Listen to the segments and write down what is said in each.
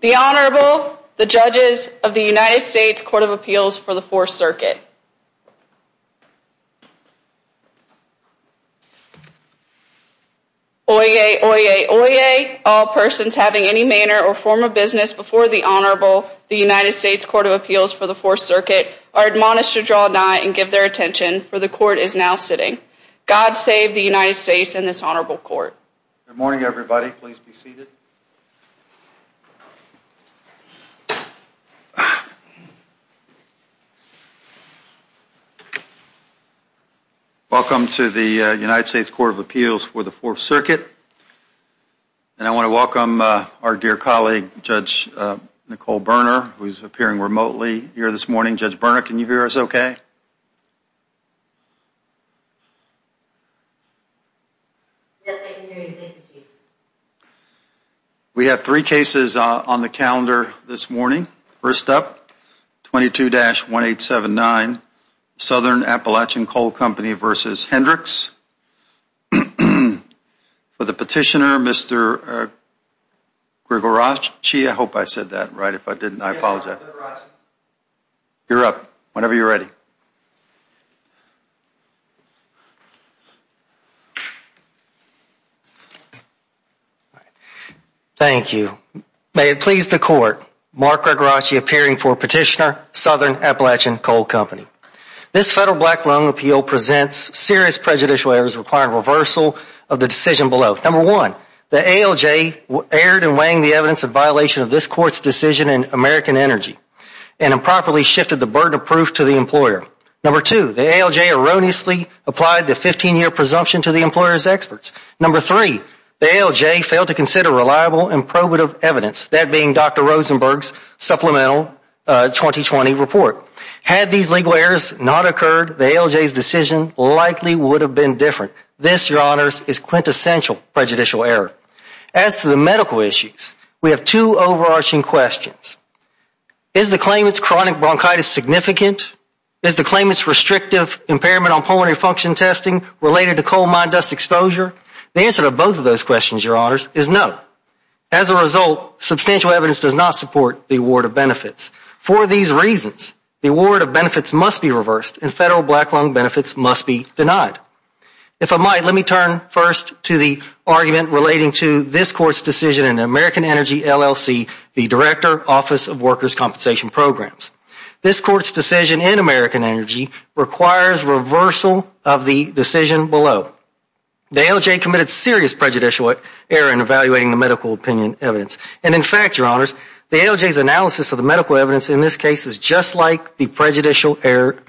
The Honorable, the Judges of the United States Court of Appeals for the Fourth Circuit. Oyez, oyez, oyez, all persons having any manner or form of business before the Honorable, the Judges of the United States Court of Appeals for the Fourth Circuit are admonished to draw nigh and give their attention, for the Court is now sitting. God save the United States and this Honorable Court. Good morning, everybody. Please be seated. Welcome to the United States Court of Appeals for the Fourth Circuit. And I want to welcome our dear colleague, Judge Nicole Berner, who is appearing remotely here this morning. Judge Berner, can you hear us okay? Yes, I can hear you. Thank you, Chief. We have three cases on the calendar this morning. First up, 22-1879, Southern Appalachian Coal Company v. Hendricks. For the Petitioner, Mr. Gregoracci. I hope I said that right. If I didn't, I apologize. You're up, whenever you're ready. Thank you. May it please the Court, Mark Gregoracci appearing for Petitioner, Southern Appalachian Coal Company. This Federal Black Loan Appeal presents serious prejudicial errors requiring reversal of the decision below. Number one, the ALJ erred in weighing the evidence in violation of this Court's decision in American Energy and improperly shifted the burden of proof to the employer. Number two, the ALJ erroneously applied the 15-year presumption to the employer's experts. Number three, the ALJ failed to consider reliable and probative evidence, that being Dr. Rosenberg's supplemental 2020 report. Had these legal errors not occurred, the ALJ's decision likely would have been different. This, Your Honors, is quintessential prejudicial error. As to the medical issues, we have two overarching questions. Is the claimant's chronic bronchitis significant? Is the claimant's restrictive impairment on pulmonary function testing related to coal mine dust exposure? The answer to both of those questions, Your Honors, is no. As a result, substantial evidence does not support the award of benefits. For these reasons, the award of benefits must be reversed and Federal Black Loan benefits must be denied. If I might, let me turn first to the argument relating to this Court's decision in American Energy LLC, the Director Office of Workers' Compensation Programs. This Court's decision in American Energy requires reversal of the decision below. The ALJ committed serious prejudicial error in evaluating the medical opinion evidence. In fact, Your Honors, the ALJ's analysis of the medical evidence in this case is just like the prejudicial error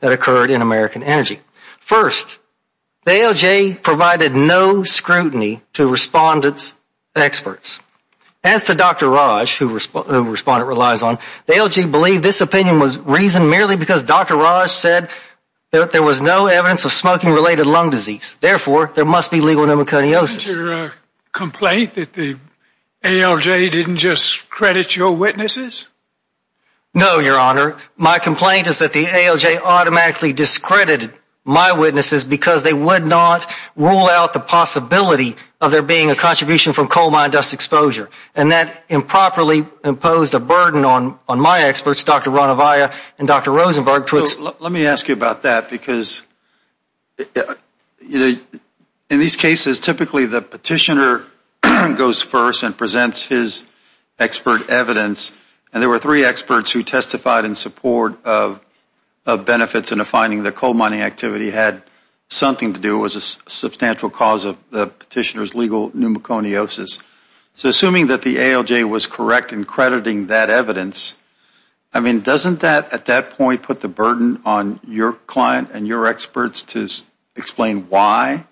that occurred in American Energy. First, the ALJ provided no scrutiny to respondents' experts. As to Dr. Raj, who the respondent relies on, the ALJ believed this opinion was reasoned merely because Dr. Raj said there was no evidence of smoking-related lung disease. Therefore, there must be legal pneumoconiosis. Isn't your complaint that the ALJ didn't just credit your witnesses? No, Your Honor. My complaint is that the ALJ automatically discredited my witnesses because they would not rule out the possibility of there being a contribution from coal mine dust exposure. And that improperly imposed a burden on my experts, Dr. Ranavia and Dr. Rosenberg. Let me ask you about that, because in these cases, typically the petitioner goes first and presents his expert evidence. And there were three experts who testified in support of benefits and a finding that coal mining activity had something to do with a substantial cause of the petitioner's legal pneumoconiosis. So assuming that the ALJ was correct in crediting that evidence, I mean, doesn't that at that point put the burden on your client and your experts to explain why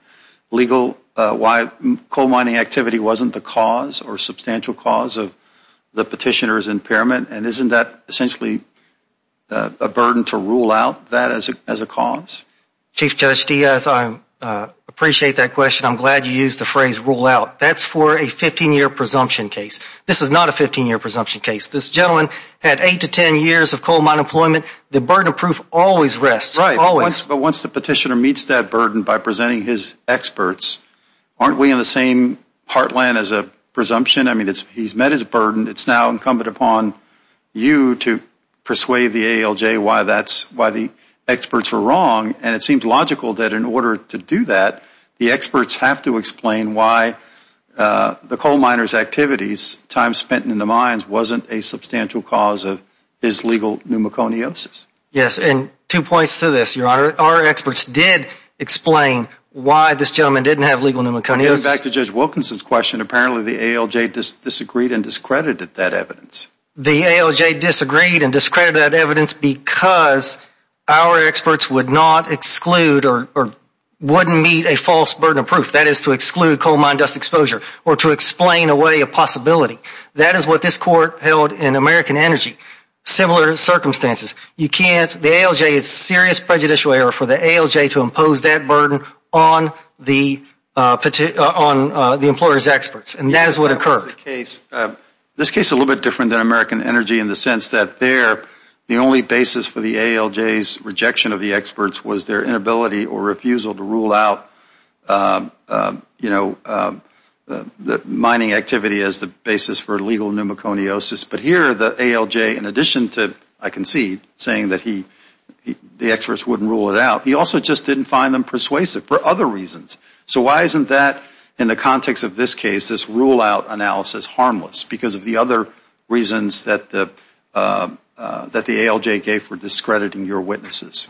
coal mining activity wasn't the cause or substantial cause of the petitioner's impairment? And isn't that essentially a burden to rule out that as a cause? Chief Judge Diaz, I appreciate that question. I'm glad you used the phrase rule out. That's for a 15-year presumption case. This is not a 15-year presumption case. This gentleman had 8 to 10 years of coal mine employment. The burden of proof always rests. Right, always. But once the petitioner meets that burden by presenting his experts, aren't we in the same heartland as a presumption? I mean, he's met his burden. It's now incumbent upon you to persuade the ALJ why the experts were wrong. And it seems logical that in order to do that, the experts have to explain why the coal miner's activities, time spent in the mines, wasn't a substantial cause of his legal pneumoconiosis. Yes, and two points to this, Your Honor. Our experts did explain why this gentleman didn't have legal pneumoconiosis. Going back to Judge Wilkinson's question, apparently the ALJ disagreed and discredited that evidence. The ALJ disagreed and discredited that evidence because our experts would not exclude or wouldn't meet a false burden of proof. That is to exclude coal mine dust exposure or to explain away a possibility. That is what this court held in American Energy. Similar circumstances. The ALJ, it's a serious prejudicial error for the ALJ to impose that burden on the employer's experts. And that is what occurred. This case is a little bit different than American Energy in the sense that there, the only basis for the ALJ's rejection of the experts was their inability or refusal to rule out, you know, mining activity as the basis for legal pneumoconiosis. But here the ALJ, in addition to, I concede, saying that the experts wouldn't rule it out, he also just didn't find them persuasive for other reasons. So why isn't that, in the context of this case, this rule out analysis harmless? Because of the other reasons that the ALJ gave for discrediting your witnesses.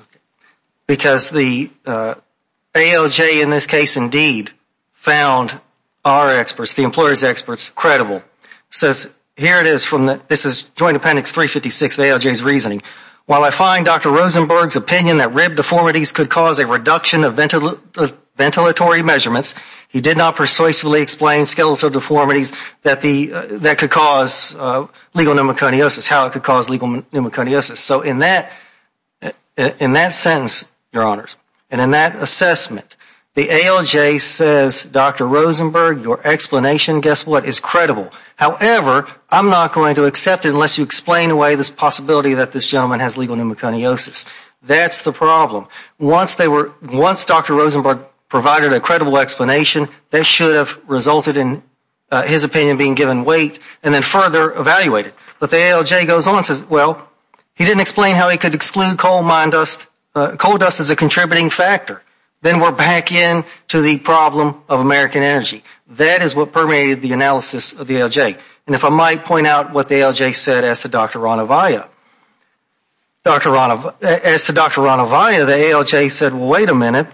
Because the ALJ in this case indeed found our experts, the employer's experts, credible. Says, here it is from the, this is Joint Appendix 356 of ALJ's reasoning. While I find Dr. Rosenberg's opinion that rib deformities could cause a reduction of ventilatory measurements, he did not persuasively explain skeletal deformities that could cause legal pneumoconiosis, how it could cause legal pneumoconiosis. So in that, in that sentence, your honors, and in that assessment, the ALJ says, Dr. Rosenberg, your explanation, guess what, is credible. However, I'm not going to accept it unless you explain away this possibility that this gentleman has legal pneumoconiosis. That's the problem. Once they were, once Dr. Rosenberg provided a credible explanation, that should have resulted in his opinion being given weight and then further evaluated. But the ALJ goes on and says, well, he didn't explain how he could exclude coal mine dust, coal dust as a contributing factor. Then we're back in to the problem of American energy. That is what permeated the analysis of the ALJ. And if I might point out what the ALJ said as to Dr. Ranavia. As to Dr. Ranavia, the ALJ said, well, wait a minute,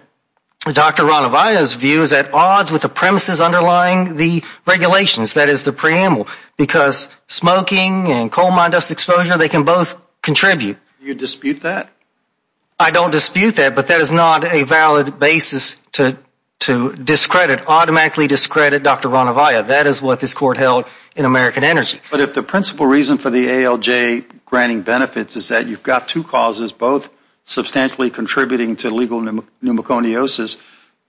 Dr. Ranavia's view is at odds with the premises underlying the regulations, that is the preamble, because smoking and coal mine dust exposure, they can both contribute. You dispute that? I don't dispute that, but that is not a valid basis to discredit, automatically discredit Dr. Ranavia. That is what this court held in American Energy. But if the principal reason for the ALJ granting benefits is that you've got two causes, both substantially contributing to legal pneumoconiosis,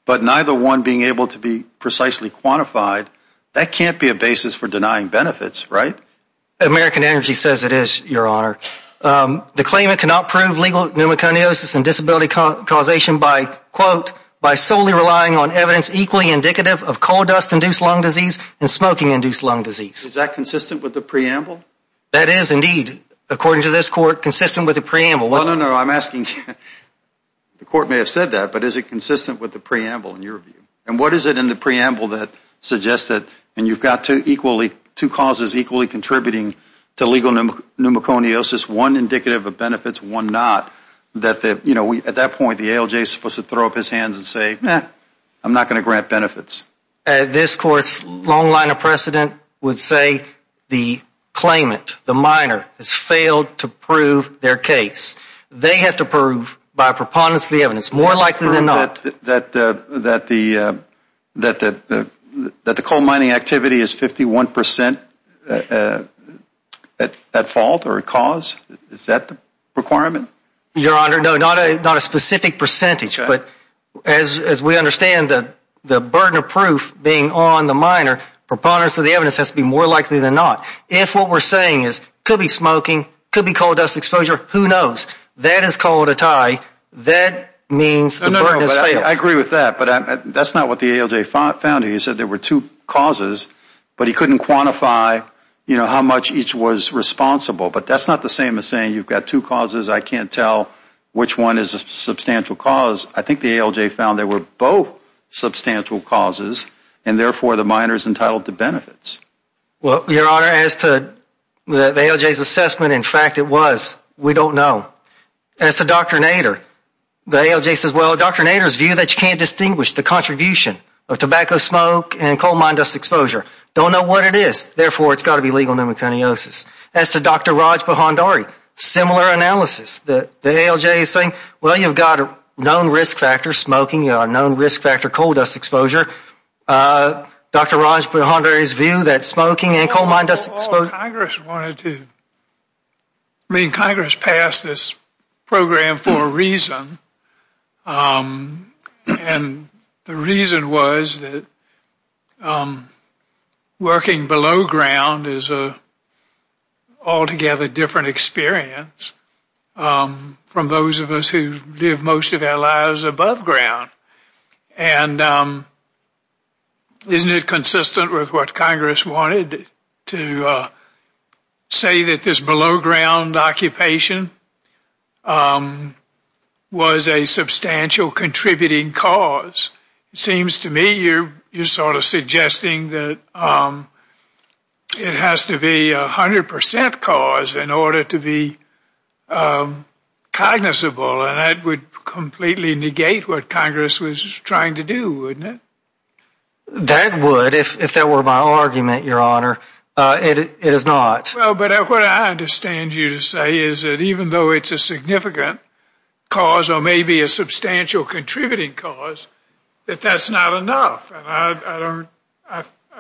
but neither one being able to be precisely quantified, that can't be a basis for denying benefits, right? American Energy says it is, Your Honor. The claimant cannot prove legal pneumoconiosis and disability causation by, quote, by solely relying on evidence equally indicative of coal dust-induced lung disease and smoking-induced lung disease. Is that consistent with the preamble? That is indeed, according to this court, consistent with the preamble. Well, no, no, I'm asking, the court may have said that, but is it consistent with the preamble in your view? And what is it in the preamble that suggests that, and you've got two causes equally contributing to legal pneumoconiosis, one indicative of benefits, one not, that at that point the ALJ is supposed to throw up his hands and say, eh, I'm not going to grant benefits? This court's long line of precedent would say the claimant, the miner, has failed to prove their case. They have to prove by preponderance of the evidence, more likely than not. That the coal mining activity is 51% at fault or at cause? Is that the requirement? Your Honor, no, not a specific percentage, but as we understand the burden of proof being on the miner, preponderance of the evidence has to be more likely than not. If what we're saying is, could be smoking, could be coal dust exposure, who knows? That is called a tie. That means the burden has failed. I agree with that, but that's not what the ALJ found here. He said there were two causes, but he couldn't quantify how much each was responsible. But that's not the same as saying you've got two causes, I can't tell which one is a substantial cause. I think the ALJ found there were both substantial causes, and therefore the miner is entitled to benefits. Well, Your Honor, as to the ALJ's assessment, in fact it was, we don't know. As to Dr. Nader, the ALJ says, well, Dr. Nader's view that you can't distinguish the contribution of tobacco smoke and coal mine dust exposure. Don't know what it is, therefore it's got to be legal pneumoconiosis. As to Dr. Raj Bahandari, similar analysis. The ALJ is saying, well, you've got a known risk factor, smoking, a known risk factor, coal dust exposure. Dr. Raj Bahandari's view that smoking and coal mine dust exposure... Congress wanted to... I mean, Congress passed this program for a reason. And the reason was that working below ground is a altogether different experience from those of us who live most of our lives above ground. And isn't it consistent with what Congress wanted to say that this below ground occupation was a substantial contributing cause? It seems to me you're sort of suggesting that it has to be a 100% cause in order to be cognizable, and that would completely negate what Congress was trying to do, wouldn't it? That would, if that were my argument, Your Honor. It is not. Well, but what I understand you to say is that even though it's a significant cause or maybe a substantial contributing cause, that that's not enough. I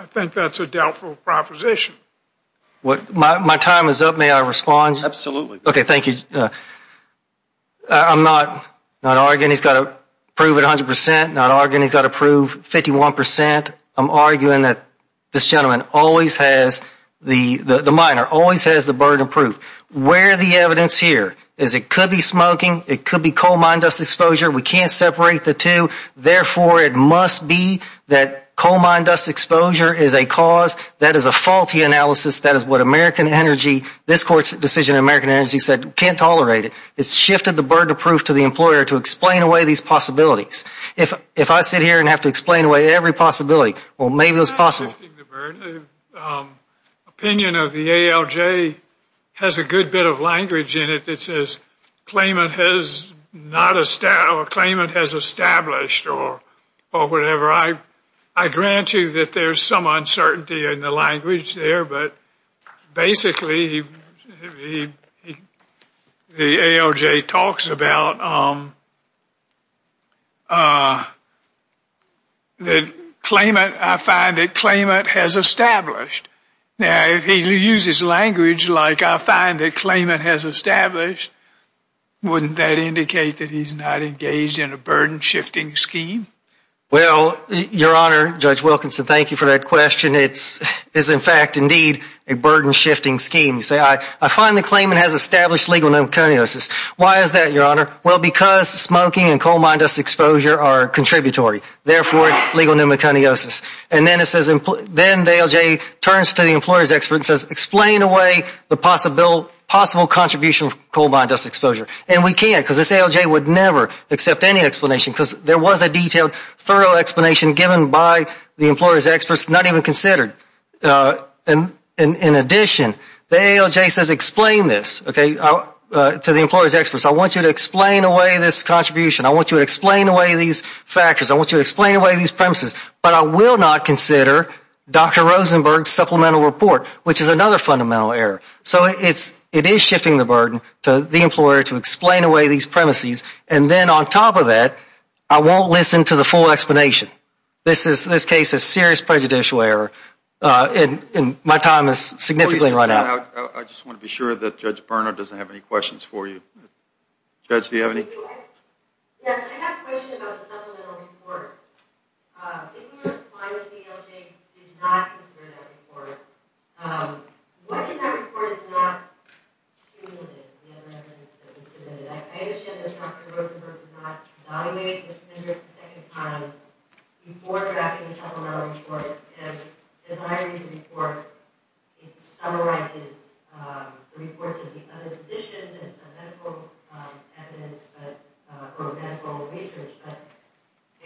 think that's a doubtful proposition. My time is up. May I respond? Okay, thank you. I'm not arguing he's got to prove it 100%. I'm not arguing he's got to prove 51%. I'm arguing that this gentleman always has... the miner always has the burden of proof. Where the evidence here is it could be smoking, it could be coal mine dust exposure. We can't separate the two, therefore it must be that coal mine dust exposure is a cause that is a faulty analysis, that is what American Energy, this Court's decision in American Energy said, can't tolerate it. It's shifted the burden of proof to the employer to explain away these possibilities. If I sit here and have to explain away every possibility, well, maybe it was possible. I'm not shifting the burden. Opinion of the ALJ has a good bit of language in it that says claimant has not established, or claimant has established, or whatever. I grant you that there's some uncertainty in the language there, but basically the ALJ talks about claimant, I find that claimant has established. Now, if he uses language like I find that claimant has established, wouldn't that indicate that he's not engaged in a burden-shifting scheme? Well, Your Honor, Judge Wilkinson, thank you for that question. It's in fact, indeed, a burden-shifting scheme. You say, I find the claimant has established legal pneumoconiosis. Why is that, Your Honor? Well, because smoking and coal mine dust exposure are contributory, therefore legal pneumoconiosis. And then it says, then the ALJ turns to the employer's and says, explain away the possible contribution of coal mine dust exposure. And we can't, because this ALJ would never accept any explanation, because there was a detailed, thorough explanation given by the employer's experts not even considered. In addition, the ALJ says, explain this to the employer's experts. I want you to explain away this contribution. I want you to explain away these factors. I want you to explain away these premises. But I will not consider Dr. Rosenberg's supplemental report, which is another fundamental error. So it is shifting the burden to the employer to explain away these premises. And then on top of that, I won't listen to the full explanation. This is, in this case, a serious prejudicial error. And my time is significantly run out. I just want to be sure that Judge Burner doesn't have any questions for you. Judge, do you have any? Yes, I have a question about the supplemental report. If the employer, the ALJ, did not consider that report, what if that report is not cumulative, the other evidence that was submitted? I understand that Dr. Rosenberg did not evaluate this measure a second time before drafting the supplemental report. And as I read the report, it summarizes the reports of the other physicians and some medical evidence, or medical research. I'd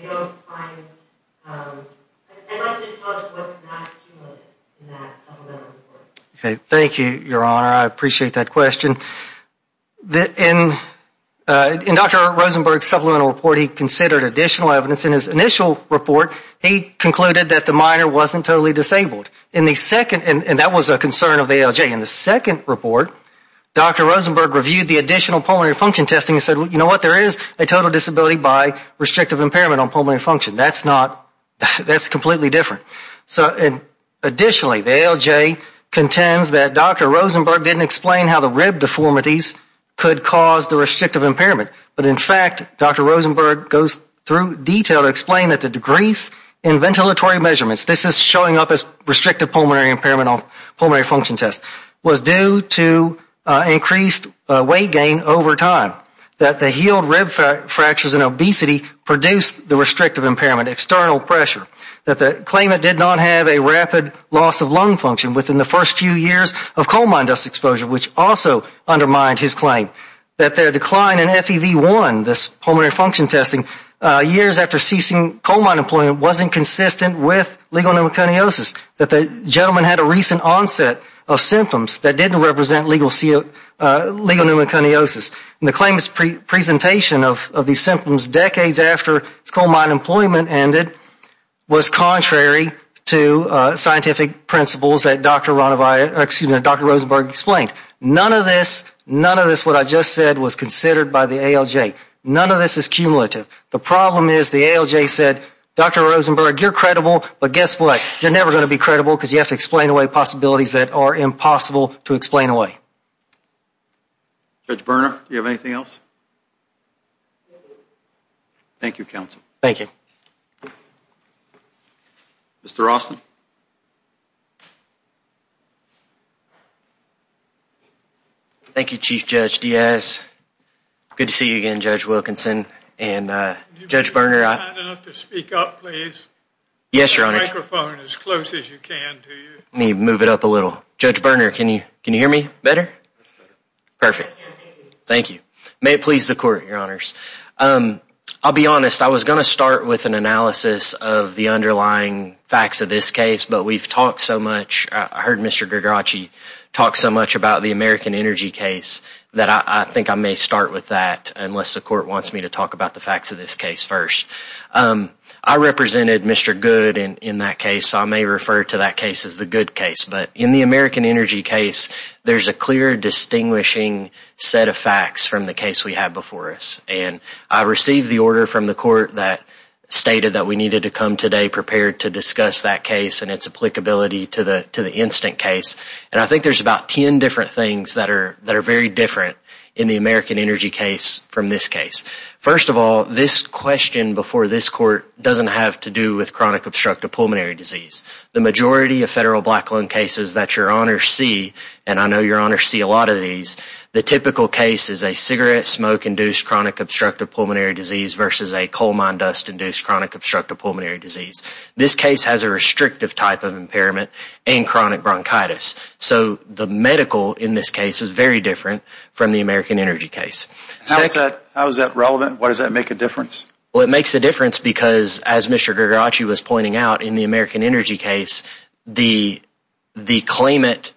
like you to tell us what's not cumulative in that supplemental report. Thank you, Your Honor. I appreciate that question. In Dr. Rosenberg's supplemental report, he considered additional evidence. In his initial report, he concluded that the minor wasn't totally disabled. And that was a concern of the ALJ. In the second report, Dr. Rosenberg reviewed the additional pulmonary function testing and said, you know what, there is a total disability by restrictive impairment on pulmonary function. That's completely different. Additionally, the ALJ contends that Dr. Rosenberg didn't explain how the rib deformities could cause the restrictive impairment. But in fact, Dr. Rosenberg goes through detail to explain that the decrease in ventilatory measurements, this is showing up as restrictive pulmonary impairment on pulmonary function tests, was due to increased weight gain over time. That the healed rib fractures and obesity produced the restrictive impairment, external pressure. That the claimant did not have a rapid loss of lung function within the first few years of coal mine dust exposure, which also undermined his claim. That the decline in FEV1, this pulmonary function testing, years after ceasing coal mine employment wasn't consistent with legal pneumoconiosis. That the gentleman had a recent onset of symptoms that didn't represent legal pneumoconiosis. And the claimant's presentation of these symptoms decades after coal mine employment ended was contrary to scientific principles that Dr. Rosenberg explained. None of this, what I just said, was considered by the ALJ. None of this is cumulative. The problem is the ALJ said, Dr. Rosenberg, you're credible, but guess what? You're never going to be credible because you have to explain away possibilities that are impossible to explain away. Judge Berner, do you have anything else? Thank you, counsel. Thank you. Mr. Austin. Thank you, Chief Judge Diaz. Good to see you again, Judge Wilkinson and Judge Berner. Can you be kind enough to speak up, please? Yes, Your Honor. Get the microphone as close as you can. Let me move it up a little. Judge Berner, can you hear me better? Perfect. Thank you. May it please the Court, Your Honors. I'll be honest. I was going to start with an analysis of the underlying facts of this case, but we've talked so much. I heard Mr. Gregoracci talk so much about the American Energy case that I think I may start with that unless the Court wants me to talk about the facts of this case first. I represented Mr. Good in that case, so I may refer to that case as the good case. But in the American Energy case, there's a clear distinguishing set of facts from the case we had before us. I received the order from the Court that stated that we needed to come today prepared to discuss that case and its applicability to the instant case. I think there's about 10 different things that are very different in the American Energy case from this case. First of all, this question before this Court doesn't have to do with chronic obstructive pulmonary disease. The majority of federal black lung cases that Your Honor see, and I know Your Honor see a lot of these, the typical case is a cigarette smoke-induced chronic obstructive pulmonary disease versus a coal mine dust-induced chronic obstructive pulmonary disease. This case has a restrictive type of impairment and chronic bronchitis. So the medical in this case is very different from the American Energy case. How is that relevant? Why does that make a difference? Well, it makes a difference because as Mr. Gregoracci was pointing out in the American Energy case, the claimant's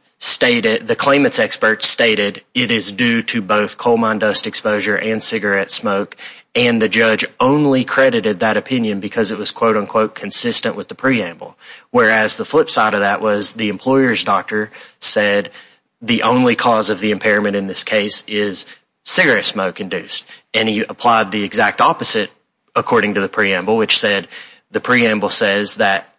experts stated it is due to both coal mine dust exposure and cigarette smoke and the judge only credited that opinion because it was consistent with the preamble. Whereas the flip side of that was the employer's doctor said the only cause of the impairment in this case is cigarette smoke-induced and he applied the exact opposite according to the preamble which said, the preamble says that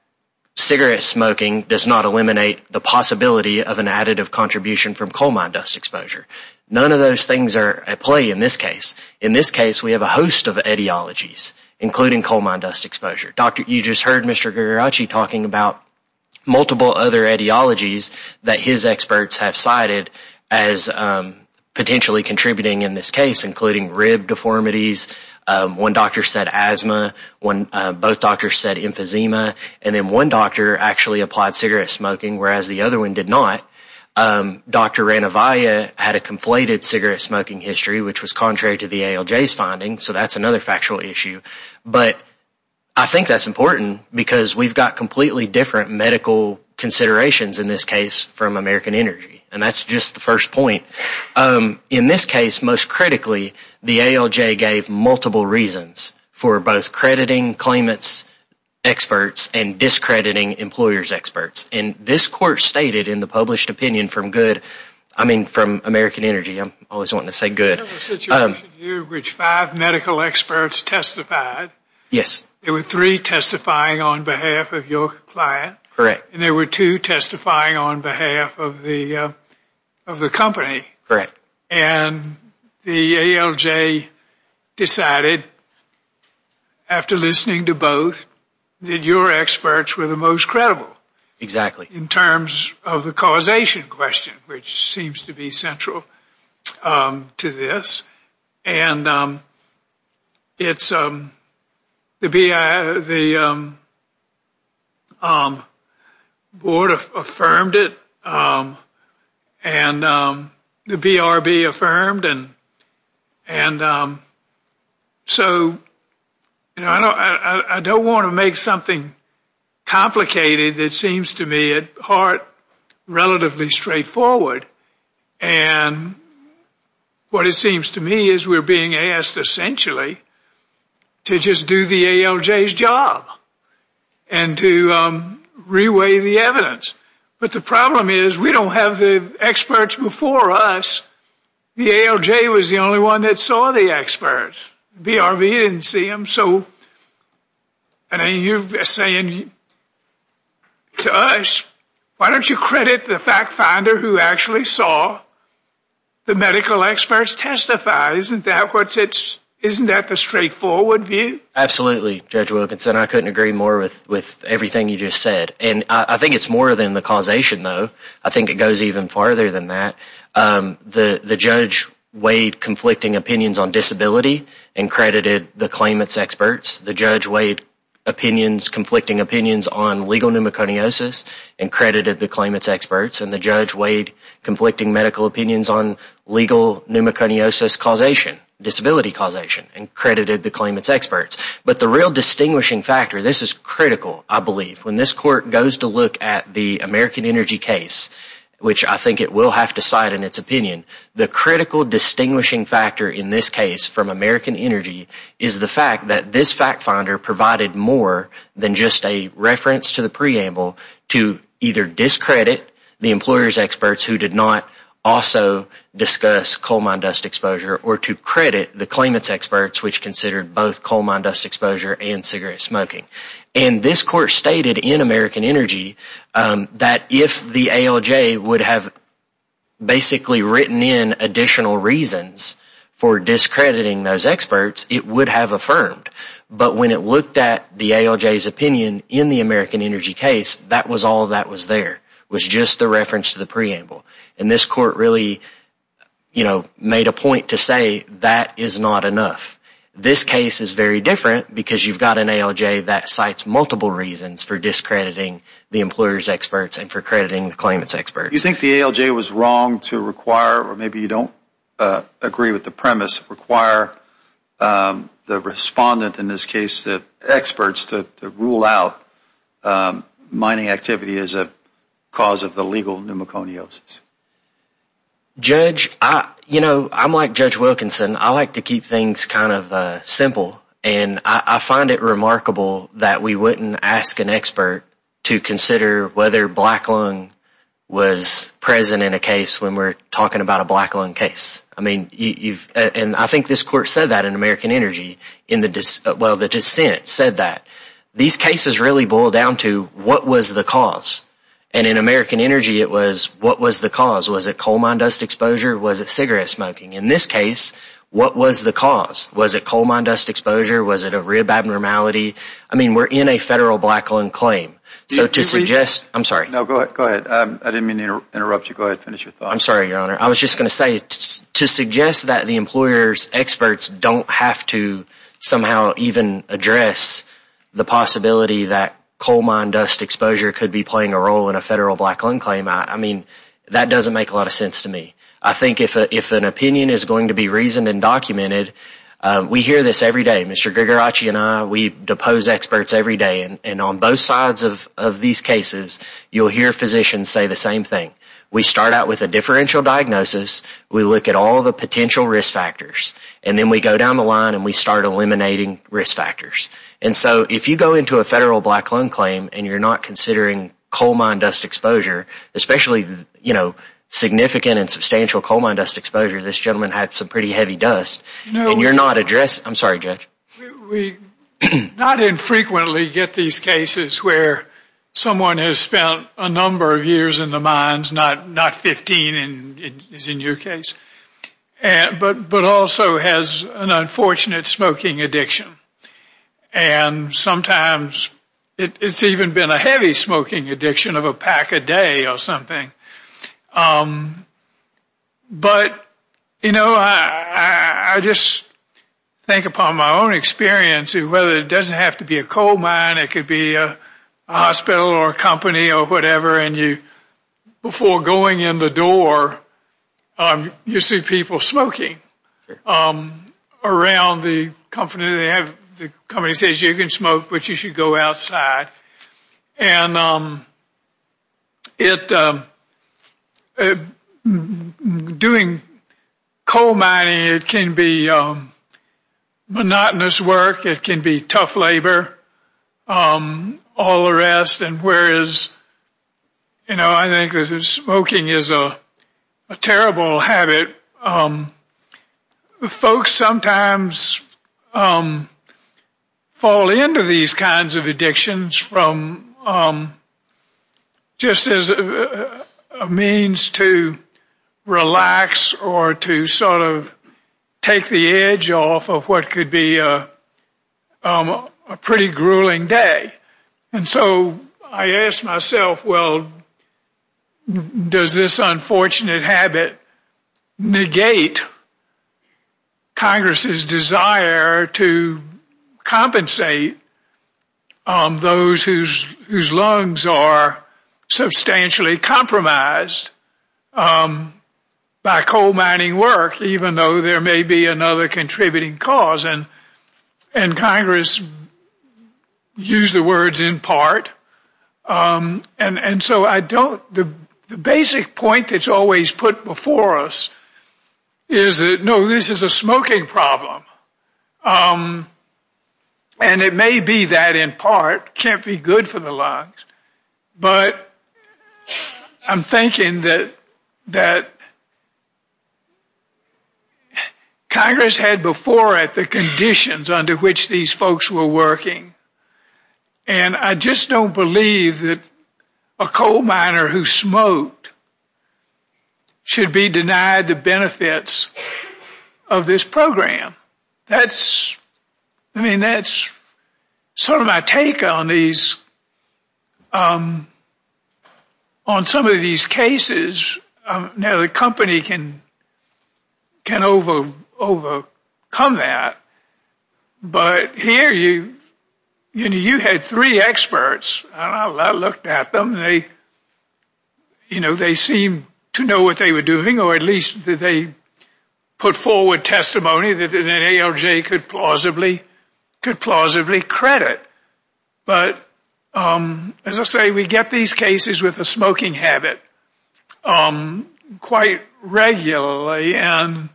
cigarette smoking does not eliminate the possibility of an additive contribution from coal mine dust exposure. None of those things are at play in this case. In this case, we have a host of etiologies including coal mine dust exposure. You just heard Mr. Gregoracci talking about multiple other etiologies that his experts have cited as potentially contributing in this case including rib deformities, one doctor said asthma, both doctors said emphysema and then one doctor actually applied cigarette smoking whereas the other one did not. Dr. Ranavia had a conflated cigarette smoking history which was contrary to the ALJ's finding so that's another factual issue but I think that's important because we've got completely different medical considerations in this case from American Energy and that's just the first point. In this case, most critically the ALJ gave multiple reasons for both crediting claimants' experts and discrediting employers' experts and this court stated in the published opinion from good, I mean from American Energy, I'm always wanting to say good There was a situation in which five medical experts testified Yes. There were three testifying on behalf of your client Correct. And there were two testifying on behalf of the of the company. Correct. And the ALJ decided after listening to both that your experts were the most credible. Exactly. In terms of the causation question which seems to be central to this and it's the board affirmed it and the BRB affirmed and so I don't want to make something complicated that seems to me at heart relatively straightforward and what it seems to me is we're being asked essentially to just do the ALJ's job and to re-weigh the evidence but the problem is we don't have the experts before us the ALJ was the only one that saw the experts BRB didn't see them so and you're saying to us, why don't you credit the fact finder who actually saw the medical experts testify. Isn't that what it's, isn't that the straightforward view? Absolutely Judge Wilkinson I couldn't agree more with everything you just and I think it's more than the causation though, I think it goes even further than that The judge weighed conflicting opinions on disability and credited the claimants experts. The judge weighed opinions, conflicting opinions on legal pneumoconiosis and credited the claimants experts and the judge weighed conflicting medical opinions on legal pneumoconiosis causation, disability causation and credited the claimants experts but the real distinguishing factor this is critical, I believe when this court goes to look at the American Energy case which I think it will have to cite in its opinion the critical distinguishing factor in this case from American Energy is the fact that this fact finder provided more than just a reference to the preamble to either discredit the employers experts who did not also discuss coal mine dust exposure or to credit the claimants experts which considered both coal mine dust exposure and cigarette smoking and this court stated in American Energy that if the ALJ would have basically written in additional reasons for discrediting those experts it would have affirmed but when it looked at the ALJ's opinion in the American Energy case that was all that was there was just the reference to the preamble and this court really made a point to say that is not enough this case is very different because you've got an ALJ that cites multiple reasons for discrediting the employers experts and for crediting the claimants experts Do you think the ALJ was wrong to require, or maybe you don't agree with the premise, require the respondent in this case the experts to rule out mining activity as a cause of the legal pneumoconiosis Judge I'm like Judge Wilkinson I like to keep things kind of simple and I find it remarkable that we wouldn't ask an expert to consider whether black lung was present in a case when we're talking about a black lung case and I think this court said that in American Energy well the dissent said that these cases really boil down to what was the cause and in American Energy it was what was the cause was it coal mine dust exposure was it cigarette smoking in this case what was the cause was it coal mine dust exposure was it a rib abnormality I mean we're in a federal black lung claim so to suggest I'm sorry I was just going to say to suggest that the employers experts don't have to somehow even address the possibility that coal mine dust exposure could be playing a role in a federal black lung claim that doesn't make a lot of sense to me I think if an opinion is going to be reasoned and documented we hear this every day Mr. Grigorachi and I we depose experts every day and on both sides of these cases you'll hear physicians say the same thing we start out with a differential diagnosis we look at all the potential risk factors and then we go down the line and we start eliminating risk factors and so if you go into a federal black lung claim and you're not considering coal mine dust exposure especially significant and substantial coal mine dust exposure this gentleman had some pretty heavy dust and you're not addressing I'm sorry Judge we not infrequently get these cases where someone has spent a number of years in the mines not 15 as in your case but also has an unfortunate smoking addiction and sometimes it's even been a heavy smoking addiction of a pack a day or something but you know I just think upon my own experience whether it doesn't have to be a coal mine it could be a hospital or a company or whatever and you before going in the door you see people smoking around the company the company says you can smoke but you should go outside and it doing coal mining it can be monotonous work it can be tough labor all the rest and whereas you know I think smoking is a terrible habit folks sometimes fall into these kinds of addictions from just as a means to relax or to sort of take the edge off of what could be a pretty grueling day and so I ask myself well does this unfortunate habit negate Congress' desire to compensate those whose lungs are substantially compromised by coal mining work even though there may be another contributing cause and Congress used the words in part and so I don't the basic point that's always put before us is no this is a smoking problem and it may be that in part can't be good for the lungs but I'm thinking that that Congress had before it the conditions under which these folks were working and I just don't believe that a coal miner who smoked should be denied the benefits of this program. That's sort of my take on these on some of these cases now the company can can overcome that but here you had three experts and I looked at them and they seemed to know what they were doing or at least they put forward testimony that an ALJ could plausibly credit but as I say we get these cases with a smoking habit quite regularly and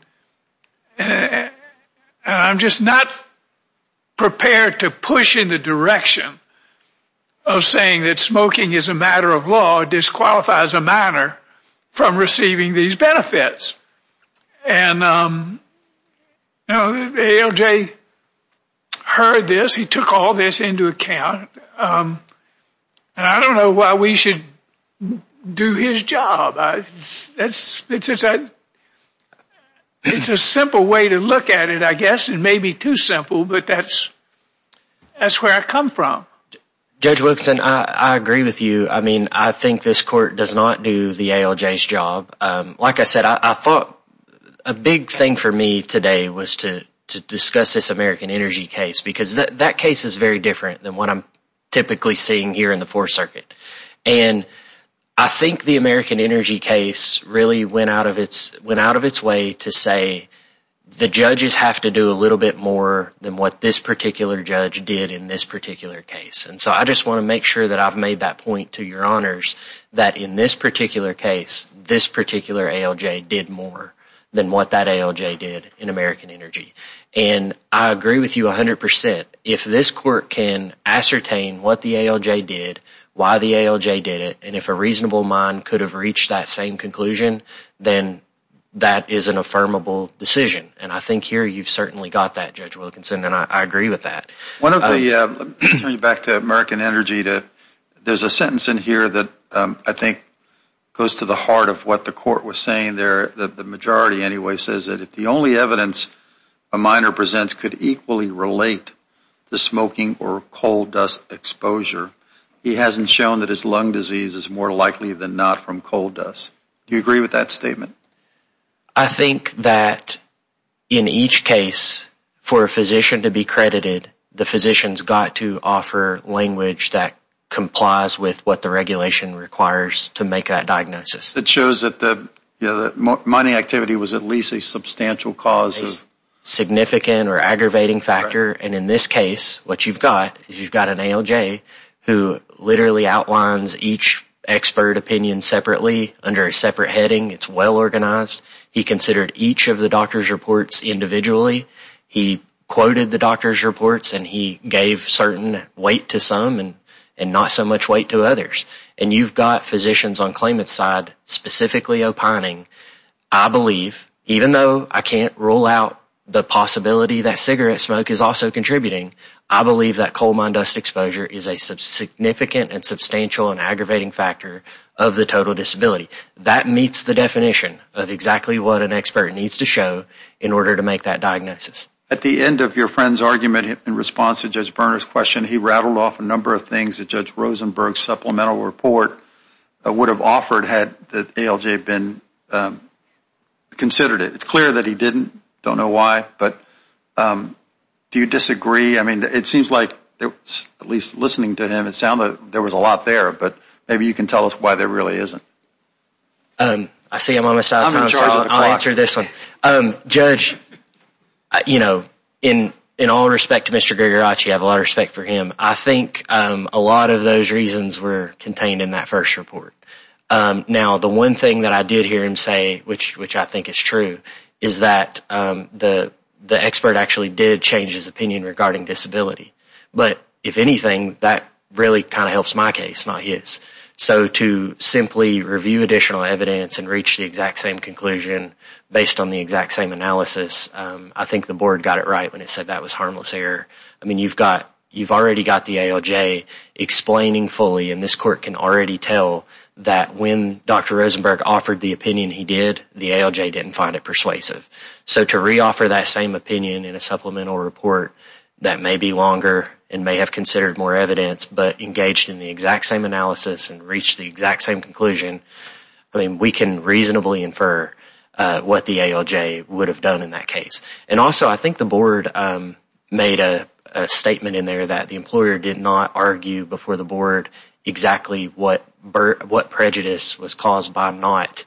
I'm just not prepared to push in the direction of saying that smoking is a matter of law disqualifies a miner from receiving these benefits and ALJ heard this he took all this into account and I don't know why we should do his job it's a simple way to look at it I guess it may be too simple but that's where I come from Judge Wilson I agree with you I think this court does not do the ALJ's job like I said I thought a big thing for me today was to discuss this American Energy case because that case is very different than what I'm typically seeing here in the 4th Circuit and I think the American Energy case really went out of its way to say the judges have to do a little bit more than what this particular judge did in this particular case and so I just want to make sure that I've made that point to your honors that in this particular case this particular ALJ did more than what that ALJ did in American Energy and I agree with you 100% if this court can ascertain what the ALJ did why the ALJ did it and if a reasonable mind could have reached that same conclusion then that is an affirmable decision and I think here you've certainly got that Judge Wilkinson and I agree with that Let me turn you back to American Energy to there's a sentence in here that I think goes to the heart of what the court was saying there the majority anyway says that if the only evidence a minor presents could equally relate to smoking or coal dust exposure he hasn't shown that his lung disease is more likely than not from coal dust Do you agree with that statement? I think that in each case for a physician to be credited the physicians got to offer language that complies with what the regulation requires to make that diagnosis. It shows that the mining activity was at least a substantial cause of significant or aggravating factor and in this case what you've got is you've got an ALJ who literally outlines each expert opinion separately under a separate heading it's well organized he considered each of the doctor's reports individually he quoted the doctor's reports and he gave certain weight to some and not so much weight to others and you've got physicians on claimant's side specifically opining I believe even though I can't rule out the possibility that cigarette smoke is also contributing I believe that coal mine dust exposure is a significant and substantial and aggravating factor of the total disability that meets the definition of exactly what an expert needs to show in order to make that diagnosis At the end of your friend's argument in response to Judge Berner's question he rattled off a number of things that Judge Rosenberg's supplemental report would have offered had the ALJ been considered it. It's clear that he didn't don't know why but do you disagree? I mean it seems like at least listening to him it sounded like there was a lot there but maybe you can tell us why there really isn't I see him on my side of the time so I'll answer this one Judge, you know in all respect to Mr. Gregoracci I have a lot of respect for him I think a lot of those reasons were contained in that first report now the one thing that I did hear him say which I think is true is that the expert actually did change his opinion regarding disability but if anything that really kind of helps my case not his so to simply review additional evidence and reach the exact same conclusion based on the exact same analysis I think the board got it right when it said that was harmless error I mean you've already got the ALJ explaining fully and this court can already tell that when Dr. Rosenberg offered the opinion he did the ALJ didn't find it persuasive so to re-offer that same in a supplemental report that may be longer and may have considered more evidence but engaged in the exact same analysis and reached the exact same conclusion we can reasonably infer what the ALJ would have done in that case and also I think the board made a statement in there that the employer did not argue before the board exactly what prejudice was caused by not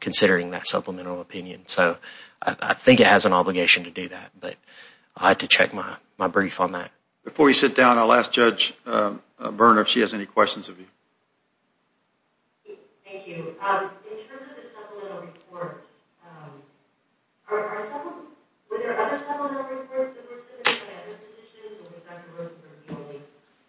considering that supplemental opinion so I think it has an obligation to do that but I'll have to check my brief on that Before we sit down I'll ask Judge Berner if she has any questions of you Thank you In terms of the supplemental report were there other supplemental reports that were submitted by other physicians or was Dr. Rosenberg the only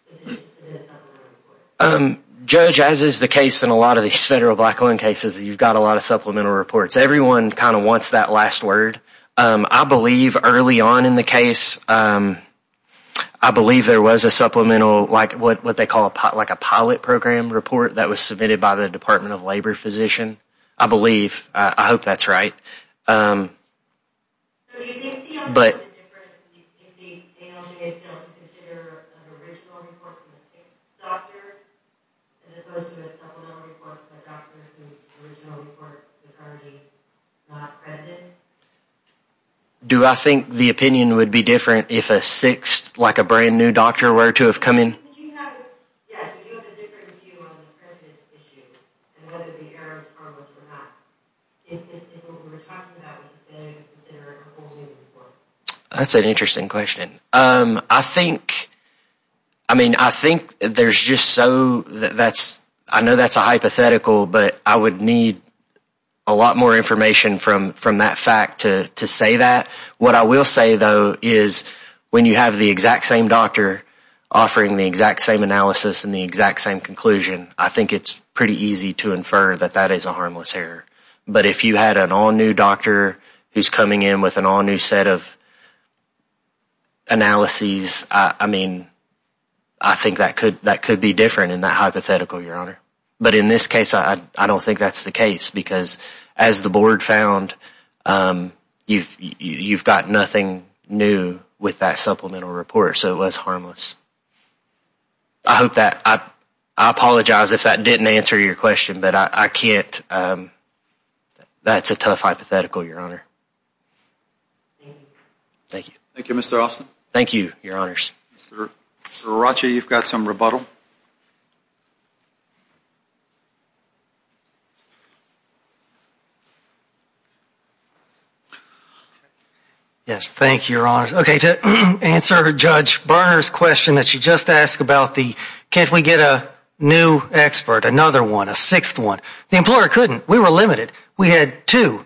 physician to submit a supplemental report Judge as is the case in a lot of these federal black loan cases you've got a lot of supplemental reports. Everyone kind of wants that last word. I believe early on in the case I believe there was a supplemental like what they call a pilot program report that was submitted by the Department of Labor physician I believe, I hope that's right Do you think the ALJ considered an original doctor as opposed to a supplemental report that Dr. Rosenberg's original report was already not credited Do I think the opinion would be different if a sixth, like a brand new doctor were to have come in Yes, would you have a different view on the credit issue and whether the errors are or were not if what we were talking about was a thing considering a whole new report That's an interesting question I think there's just so I know that's a hypothetical but I would need a lot more information from that fact to say that what I will say though is when you have the exact same doctor offering the exact same analysis and the exact same conclusion, I think it's pretty easy to infer that that is a harmless error, but if you had an all new doctor who's coming in with an all new set of analyses I mean I think that could be different in that hypothetical, your honor but in this case I don't think that's the case because as the board found you've got nothing new with that supplemental report so it was harmless I hope that I apologize if that didn't answer your question but I can't that's a tough hypothetical, your honor Thank you, Mr. Austin Thank you, your honors Mr. Aracha, you've got some rebuttal Yes, thank you, your honors Okay, to answer Judge Barner's question that she just asked about the can't we get a new expert, another one, a sixth one the employer couldn't, we were limited we had two,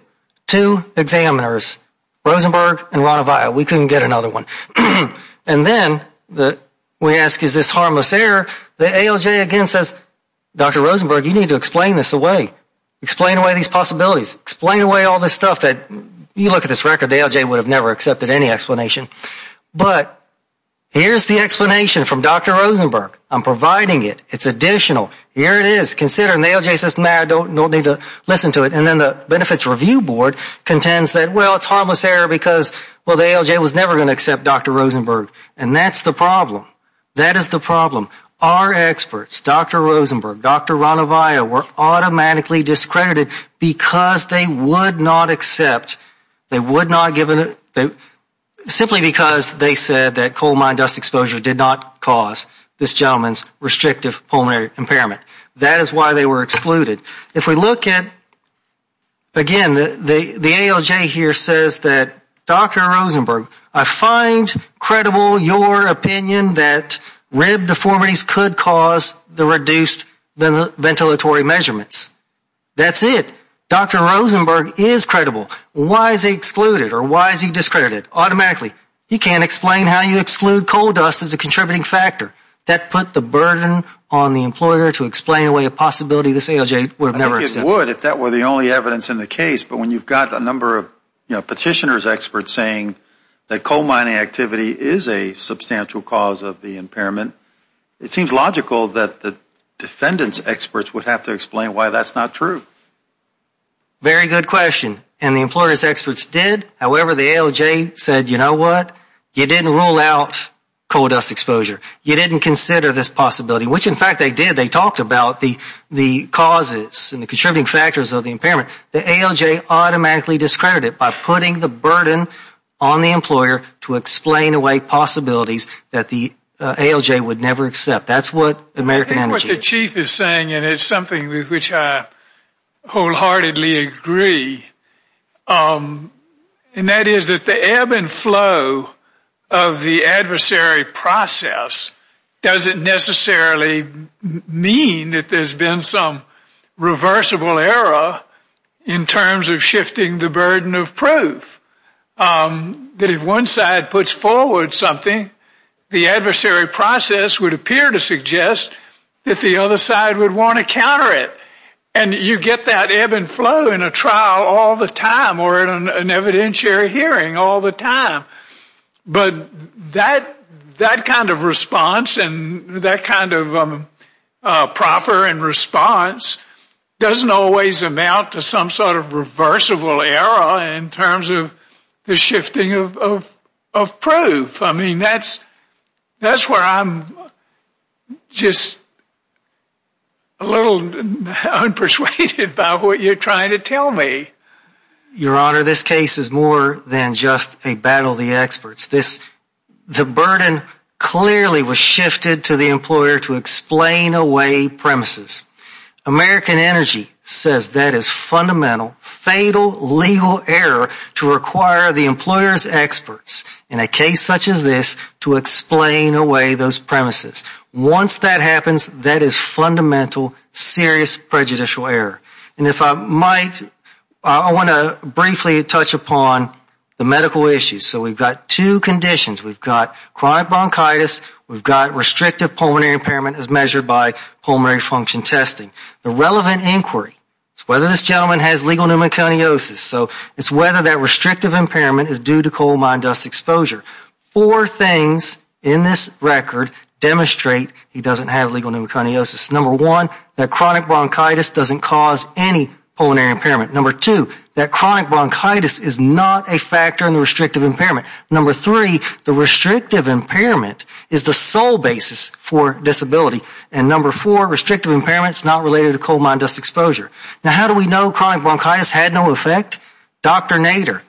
two examiners, Rosenberg and Ranavia, we couldn't get another one and then we ask is this harmless error the ALJ again says Dr. Rosenberg, you need to explain this away explain away these possibilities explain away all this stuff that you look at this record, the ALJ would have never accepted any explanation but here's the explanation from Dr. Rosenberg I'm providing it, it's additional here it is, consider it and the ALJ says, no, I don't need to listen to it and then the benefits review board contends that well it's harmless error because well the ALJ was never going to accept Dr. Rosenberg and that's the problem that is the problem our experts, Dr. Rosenberg Dr. Ranavia were automatically discredited because they would not accept they would not give simply because they said that coal mine dust exposure did not cause this gentleman's restrictive pulmonary impairment, that is why they were excluded, if we look at again the ALJ here says that Dr. Rosenberg, I find credible your opinion that rib deformities could cause the reduced ventilatory measurements that's it, Dr. Rosenberg is credible, why is he excluded or why is he discredited automatically, he can't explain how you exclude coal dust as a contributing factor that put the burden on the employer to explain away a possibility this ALJ would never accept I think it would if that were the only evidence in the case but when you've got a number of petitioners experts saying that coal mining activity is a substantial cause of the impairment it seems logical that the defendants experts would have to explain why that's not true very good question, and the employers experts did, however the ALJ said you know what, you didn't rule out coal dust exposure you didn't consider this possibility which in fact they did, they talked about the causes and the contributing factors of the impairment, the ALJ automatically discredited by putting the burden on the employer to explain away possibilities that the ALJ would never accept, that's what American Energy I think what the chief is saying and it's something with which I wholeheartedly agree and that is that the ebb and flow of the adversary process doesn't necessarily mean that there's been some reversible error in terms of shifting the burden of proof that if one side puts forward something the adversary process would appear to suggest that the other side would want to counter it and you get that ebb and flow in a trial all the time or in an evidentiary hearing all the time but that kind of response and that kind of proper response doesn't always amount to some sort of reversible error in terms of the shifting of proof, I mean that's where I'm just a little unpersuaded about what you're trying to tell me. Your honor this case is more than just a battle of the experts. The burden clearly was shifted to the employer to explain away premises. American Energy says that is fundamental fatal legal error to require the employer's experts in a case such as this to explain away those premises. Once that happens that is fundamental serious prejudicial error and if I might I want to briefly touch upon the medical issues. So we've got two conditions. We've got chronic bronchitis, we've got restrictive pulmonary impairment as measured by pulmonary function testing. The relevant inquiry is whether this gentleman has legal pneumoconiosis. So it's whether that restrictive impairment is due to coal mine dust exposure. Four things in this record demonstrate he doesn't have legal pneumoconiosis. Number one, that chronic bronchitis doesn't cause any pulmonary impairment. Number two, that chronic bronchitis is not a factor in the restrictive impairment. Number three, the restrictive impairment is the sole basis for disability and number four, restrictive impairment is not related to coal mine dust exposure. Now how do we know chronic bronchitis had no effect? Dr. Nader,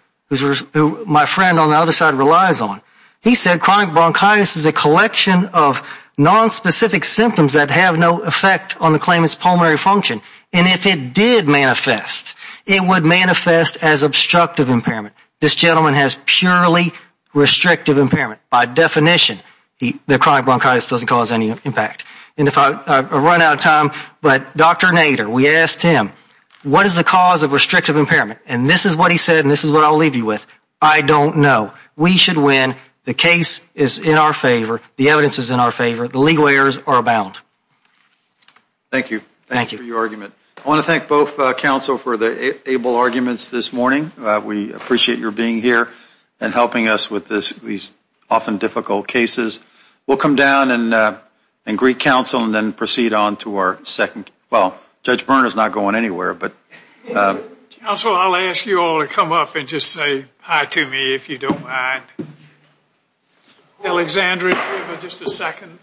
who my friend on the other side relies on, he said chronic bronchitis is a collection of nonspecific symptoms that have no effect on the claimant's pulmonary function and if it did manifest, it would manifest as obstructive impairment. This gentleman has purely restrictive impairment by definition. The chronic bronchitis doesn't cause any impact. And if I run out of time, but Dr. Nader, we asked him what is the cause of restrictive impairment and this is what he said and this is what I'll leave you with. I don't know. We should win. The case is in our favor. The evidence is in our favor. The legal errors are bound. Thank you. Thank you for your argument. I want to thank both counsel for the able arguments this morning. We appreciate your being here and helping us with these often difficult cases. We'll come down and greet counsel and then proceed on to our second well, Judge Burner is not going anywhere, but. Counsel, I'll ask you all to come up and just say hi to me if you don't mind. Alexandria, just a second.